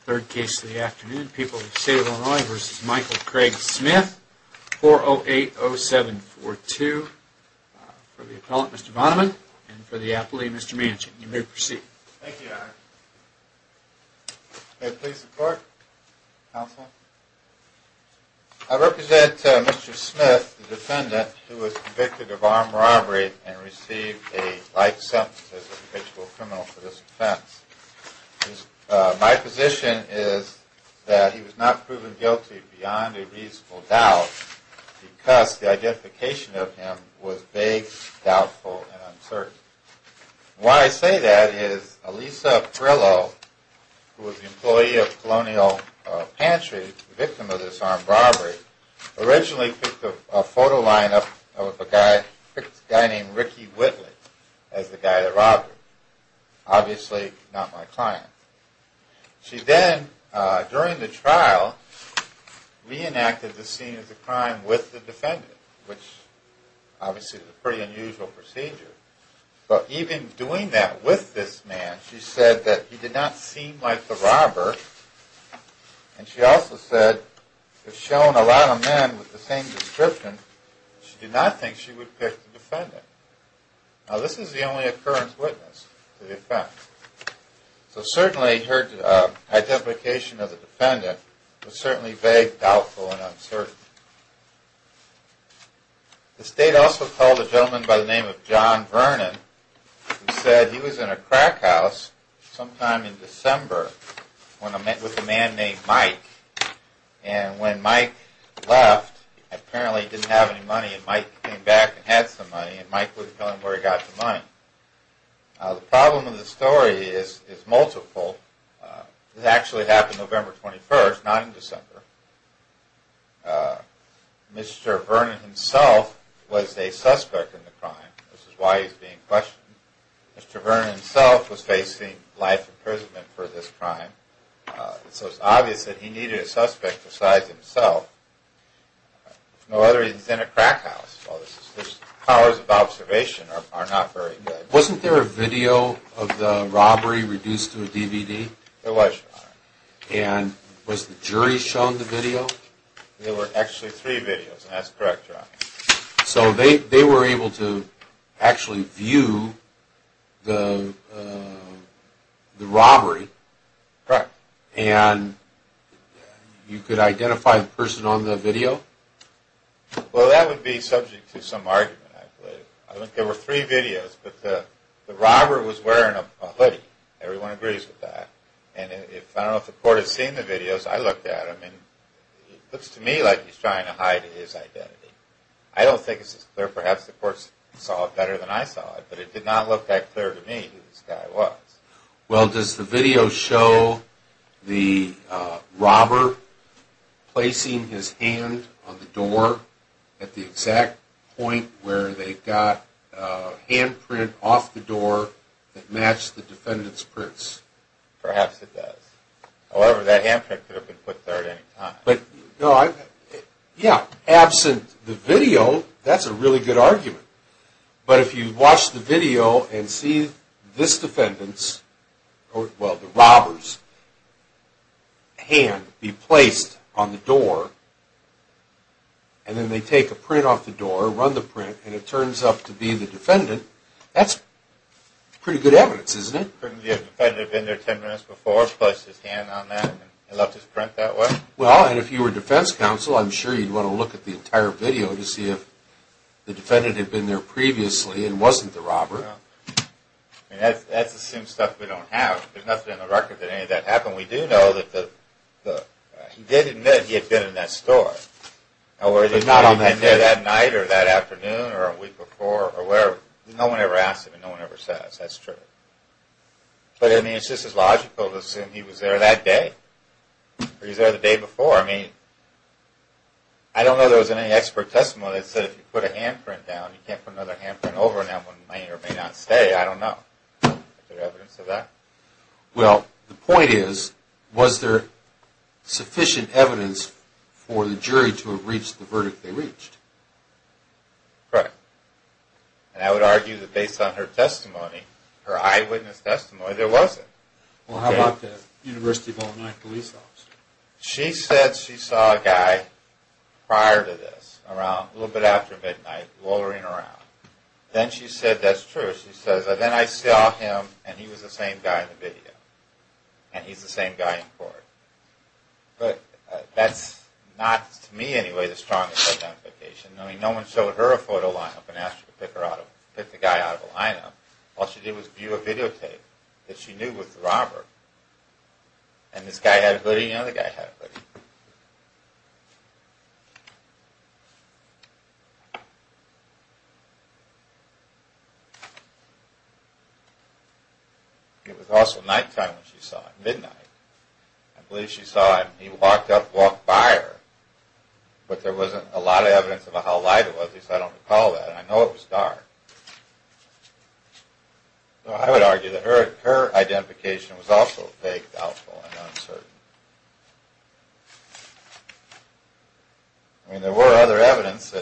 Third case of the afternoon, People of the State of Illinois v. Michael Craig Smith, 4-0-8-0-7-4-2. For the appellant, Mr. Vonneman, and for the appellee, Mr. Manchin. You may proceed. Thank you, Your Honor. May it please the Court, Counsel? I represent Mr. Smith, the defendant, who was convicted of armed robbery and received a life sentence as an official criminal for this offense. My position is that he was not proven guilty beyond a reasonable doubt because the identification of him was vague, doubtful, and uncertain. Why I say that is Elisa Frillo, who was the employee of Colonial Pantry, the victim of this armed robbery, originally picked a photo lineup of a guy named Ricky Whitley as the guy that robbed him. Obviously, not my client. She then, during the trial, reenacted the scene of the crime with the defendant, which obviously is a pretty unusual procedure. But even doing that with this man, she said that he did not seem like the robber, and she also said, having shown a lot of men with the same description, she did not think she would pick the defendant. Now, this is the only occurrence witness to the offense. So certainly, her identification of the defendant was certainly vague, doubtful, and uncertain. The State also told a gentleman by the name of John Vernon, who said he was in a crack house sometime in December with a man named Mike. And when Mike left, apparently he didn't have any money, and Mike came back and had some money, and Mike was going where he got the money. The problem with the story is multiple. It actually happened November 21st, not in December. Mr. Vernon himself was a suspect in the crime. This is why he's being questioned. Mr. Vernon himself was facing life imprisonment for this crime. So it's obvious that he needed a suspect besides himself. No other reason he's in a crack house. The powers of observation are not very good. Wasn't there a video of the robbery reduced to a DVD? There was, Your Honor. And was the jury shown the video? So they were able to actually view the robbery? Correct. And you could identify the person on the video? Well, that would be subject to some argument, I believe. I think there were three videos, but the robber was wearing a hoodie. Everyone agrees with that. I don't know if the court has seen the videos. I looked at them, and it looks to me like he's trying to hide his identity. I don't think it's as clear. Perhaps the court saw it better than I saw it, but it did not look that clear to me who this guy was. Well, does the video show the robber placing his hand on the door at the exact point where they got handprint off the door that matched the defendant's prints? Perhaps it does. However, that handprint could have been put there at any time. Yeah, absent the video, that's a really good argument. But if you watch the video and see this defendant's, well, the robber's hand be placed on the door, and then they take a print off the door, run the print, and it turns up to be the defendant, that's pretty good evidence, isn't it? Couldn't the defendant have been there ten minutes before, placed his hand on that, and left his print that way? Well, and if you were defense counsel, I'm sure you'd want to look at the entire video to see if the defendant had been there previously and wasn't the robber. That's the same stuff we don't have. There's nothing on the record that any of that happened. We do know that he did admit he had been in that store. But not on that day. Or that night, or that afternoon, or a week before, or wherever. No one ever asked him, and no one ever says. That's true. But, I mean, it's just as logical to assume he was there that day. Or he was there the day before. I mean, I don't know if there was any expert testimony that said if you put a handprint down, you can't put another handprint over, and that one may or may not stay. I don't know. Is there evidence of that? Well, the point is, was there sufficient evidence for the jury to have reached the verdict they reached? Correct. And I would argue that based on her testimony, her eyewitness testimony, there wasn't. Well, how about the University of Illinois police officer? She said she saw a guy prior to this, a little bit after midnight, loitering around. Then she said, that's true. She says, then I saw him, and he was the same guy in the video. And he's the same guy in court. But that's not, to me anyway, the strongest identification. I mean, no one showed her a photo line-up and asked her to pick the guy out of the line-up. All she did was view a videotape that she knew was the robber. And this guy had a hoodie, and the other guy had a hoodie. It was also nighttime when she saw him, midnight. I believe she saw him. He walked up, walked by her. But there wasn't a lot of evidence about how light it was. At least, I don't recall that. I know it was dark. So I would argue that her identification was also vague, doubtful, and uncertain. I mean, there were other evidence.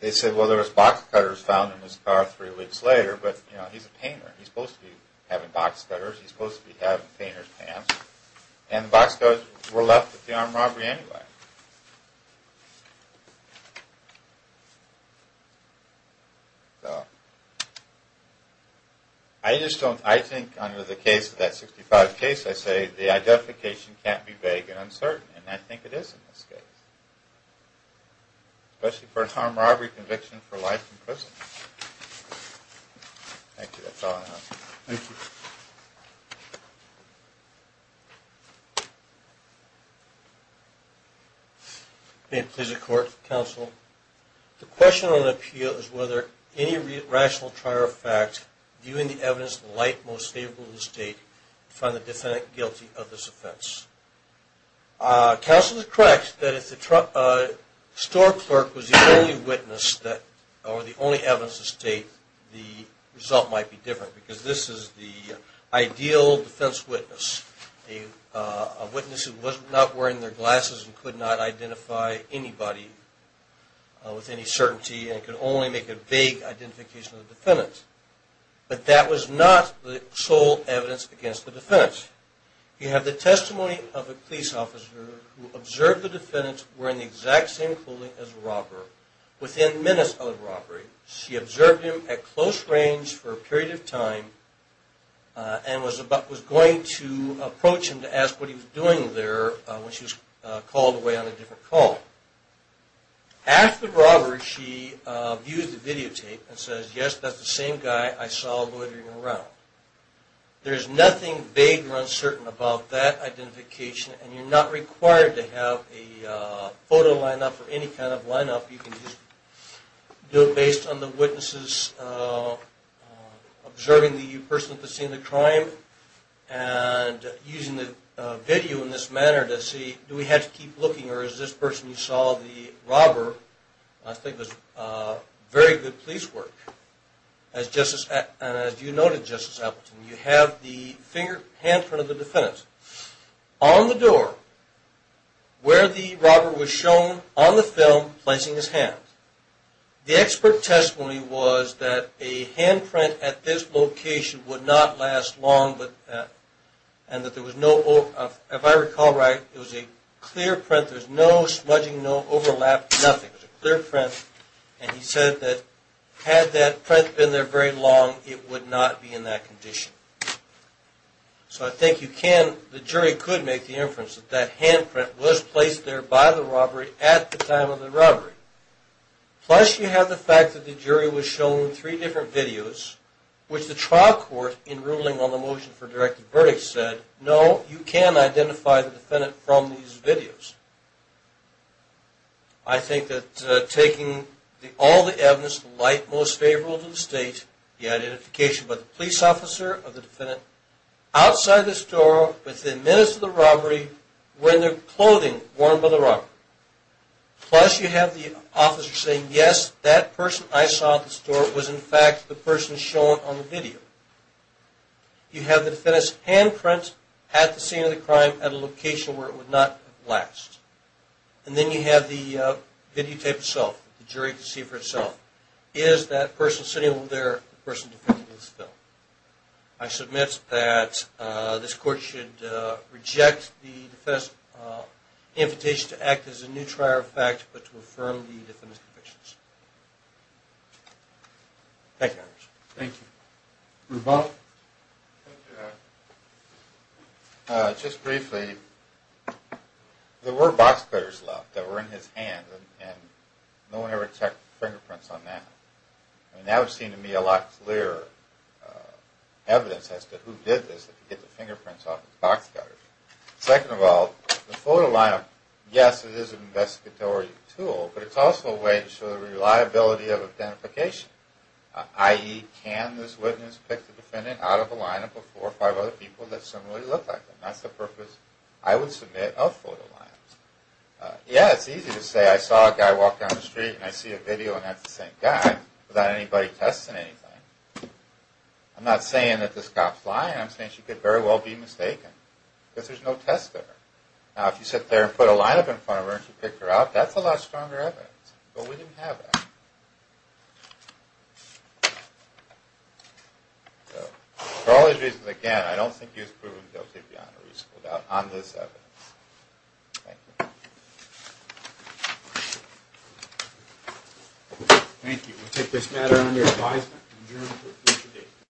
They said, well, there was box cutters found in his car three weeks later. But, you know, he's a painter. He's supposed to be having box cutters. He's supposed to be having painter's pants. And the box cutters were left at the armed robbery anyway. So, I just don't, I think under the case of that 65 case, I say the identification can't be vague and uncertain. And I think it is in this case. Especially for an armed robbery conviction for life in prison. Thank you. That's all I have. Thank you. May it please the Court, Counsel. The question on appeal is whether any rational trial or fact, viewing the evidence to the light most favorable to the State, would find the defendant guilty of this offense. Counsel is correct that if the store clerk was the only witness that, or the only evidence to the State, the result might be different. Because this is the ideal defense witness. A witness who was not wearing their glasses and could not identify anybody with any certainty and could only make a vague identification of the defendant. But that was not the sole evidence against the defendant. You have the testimony of a police officer who observed the defendant wearing the exact same clothing as the robber within minutes of the robbery. And was going to approach him to ask what he was doing there when she was called away on a different call. After the robbery, she views the videotape and says, yes, that's the same guy I saw loitering around. There is nothing vague or uncertain about that identification, and you're not required to have a photo lineup or any kind of lineup. You can do it based on the witnesses observing the person at the scene of the crime and using the video in this manner to see, do we have to keep looking or is this person you saw the robber? I think that's very good police work. As you noted, Justice Appleton, you have the hand print of the defendant on the door where the robber was shown on the film placing his hand. The expert testimony was that a hand print at this location would not last long and that there was no, if I recall right, it was a clear print. There was no smudging, no overlap, nothing. It was a clear print and he said that had that print been there very long, it would not be in that condition. So I think you can, the jury could make the inference that that hand print was placed there by the robbery at the time of the robbery. Plus you have the fact that the jury was shown three different videos which the trial court in ruling on the motion for directed verdict said, no, you can identify the defendant from these videos. I think that taking all the evidence, the light most favorable to the state, the identification by the police officer of the defendant outside the store within minutes of the robbery wearing the clothing worn by the robber. Plus you have the officer saying, yes, that person I saw at the store was in fact the person shown on the video. You have the defendant's hand print at the scene of the crime at a location where it would not last. And then you have the videotape itself. The jury can see for itself. Is that person sitting over there the person defending this bill? I submit that this court should reject the defense's invitation to act as a new trier of fact but to affirm the defendant's convictions. Thank you, Your Honor. Thank you. Rebaugh? Just briefly, there were box cutters left that were in his hand and no one ever checked the fingerprints on that. That would seem to me a lot clearer evidence as to who did this that could get the fingerprints off the box cutters. Second of all, the photo lineup, yes, it is an investigatory tool, but it's also a way to show the reliability of identification, i.e., can this witness pick the defendant out of the lineup of four or five other people that similarly look like them? That's the purpose I would submit of photo lineups. Yeah, it's easy to say I saw a guy walk down the street and I see a video and that's the same guy without anybody testing anything. I'm not saying that this cop's lying. I'm saying she could very well be mistaken because there's no test there. Now, if you sit there and put a lineup in front of her and she picked her out, that's a lot stronger evidence. But we didn't have that. For all these reasons, again, I don't think he was proven guilty, but he should be on a reasonable doubt on this evidence. Thank you. Thank you. We'll take this matter under advisement.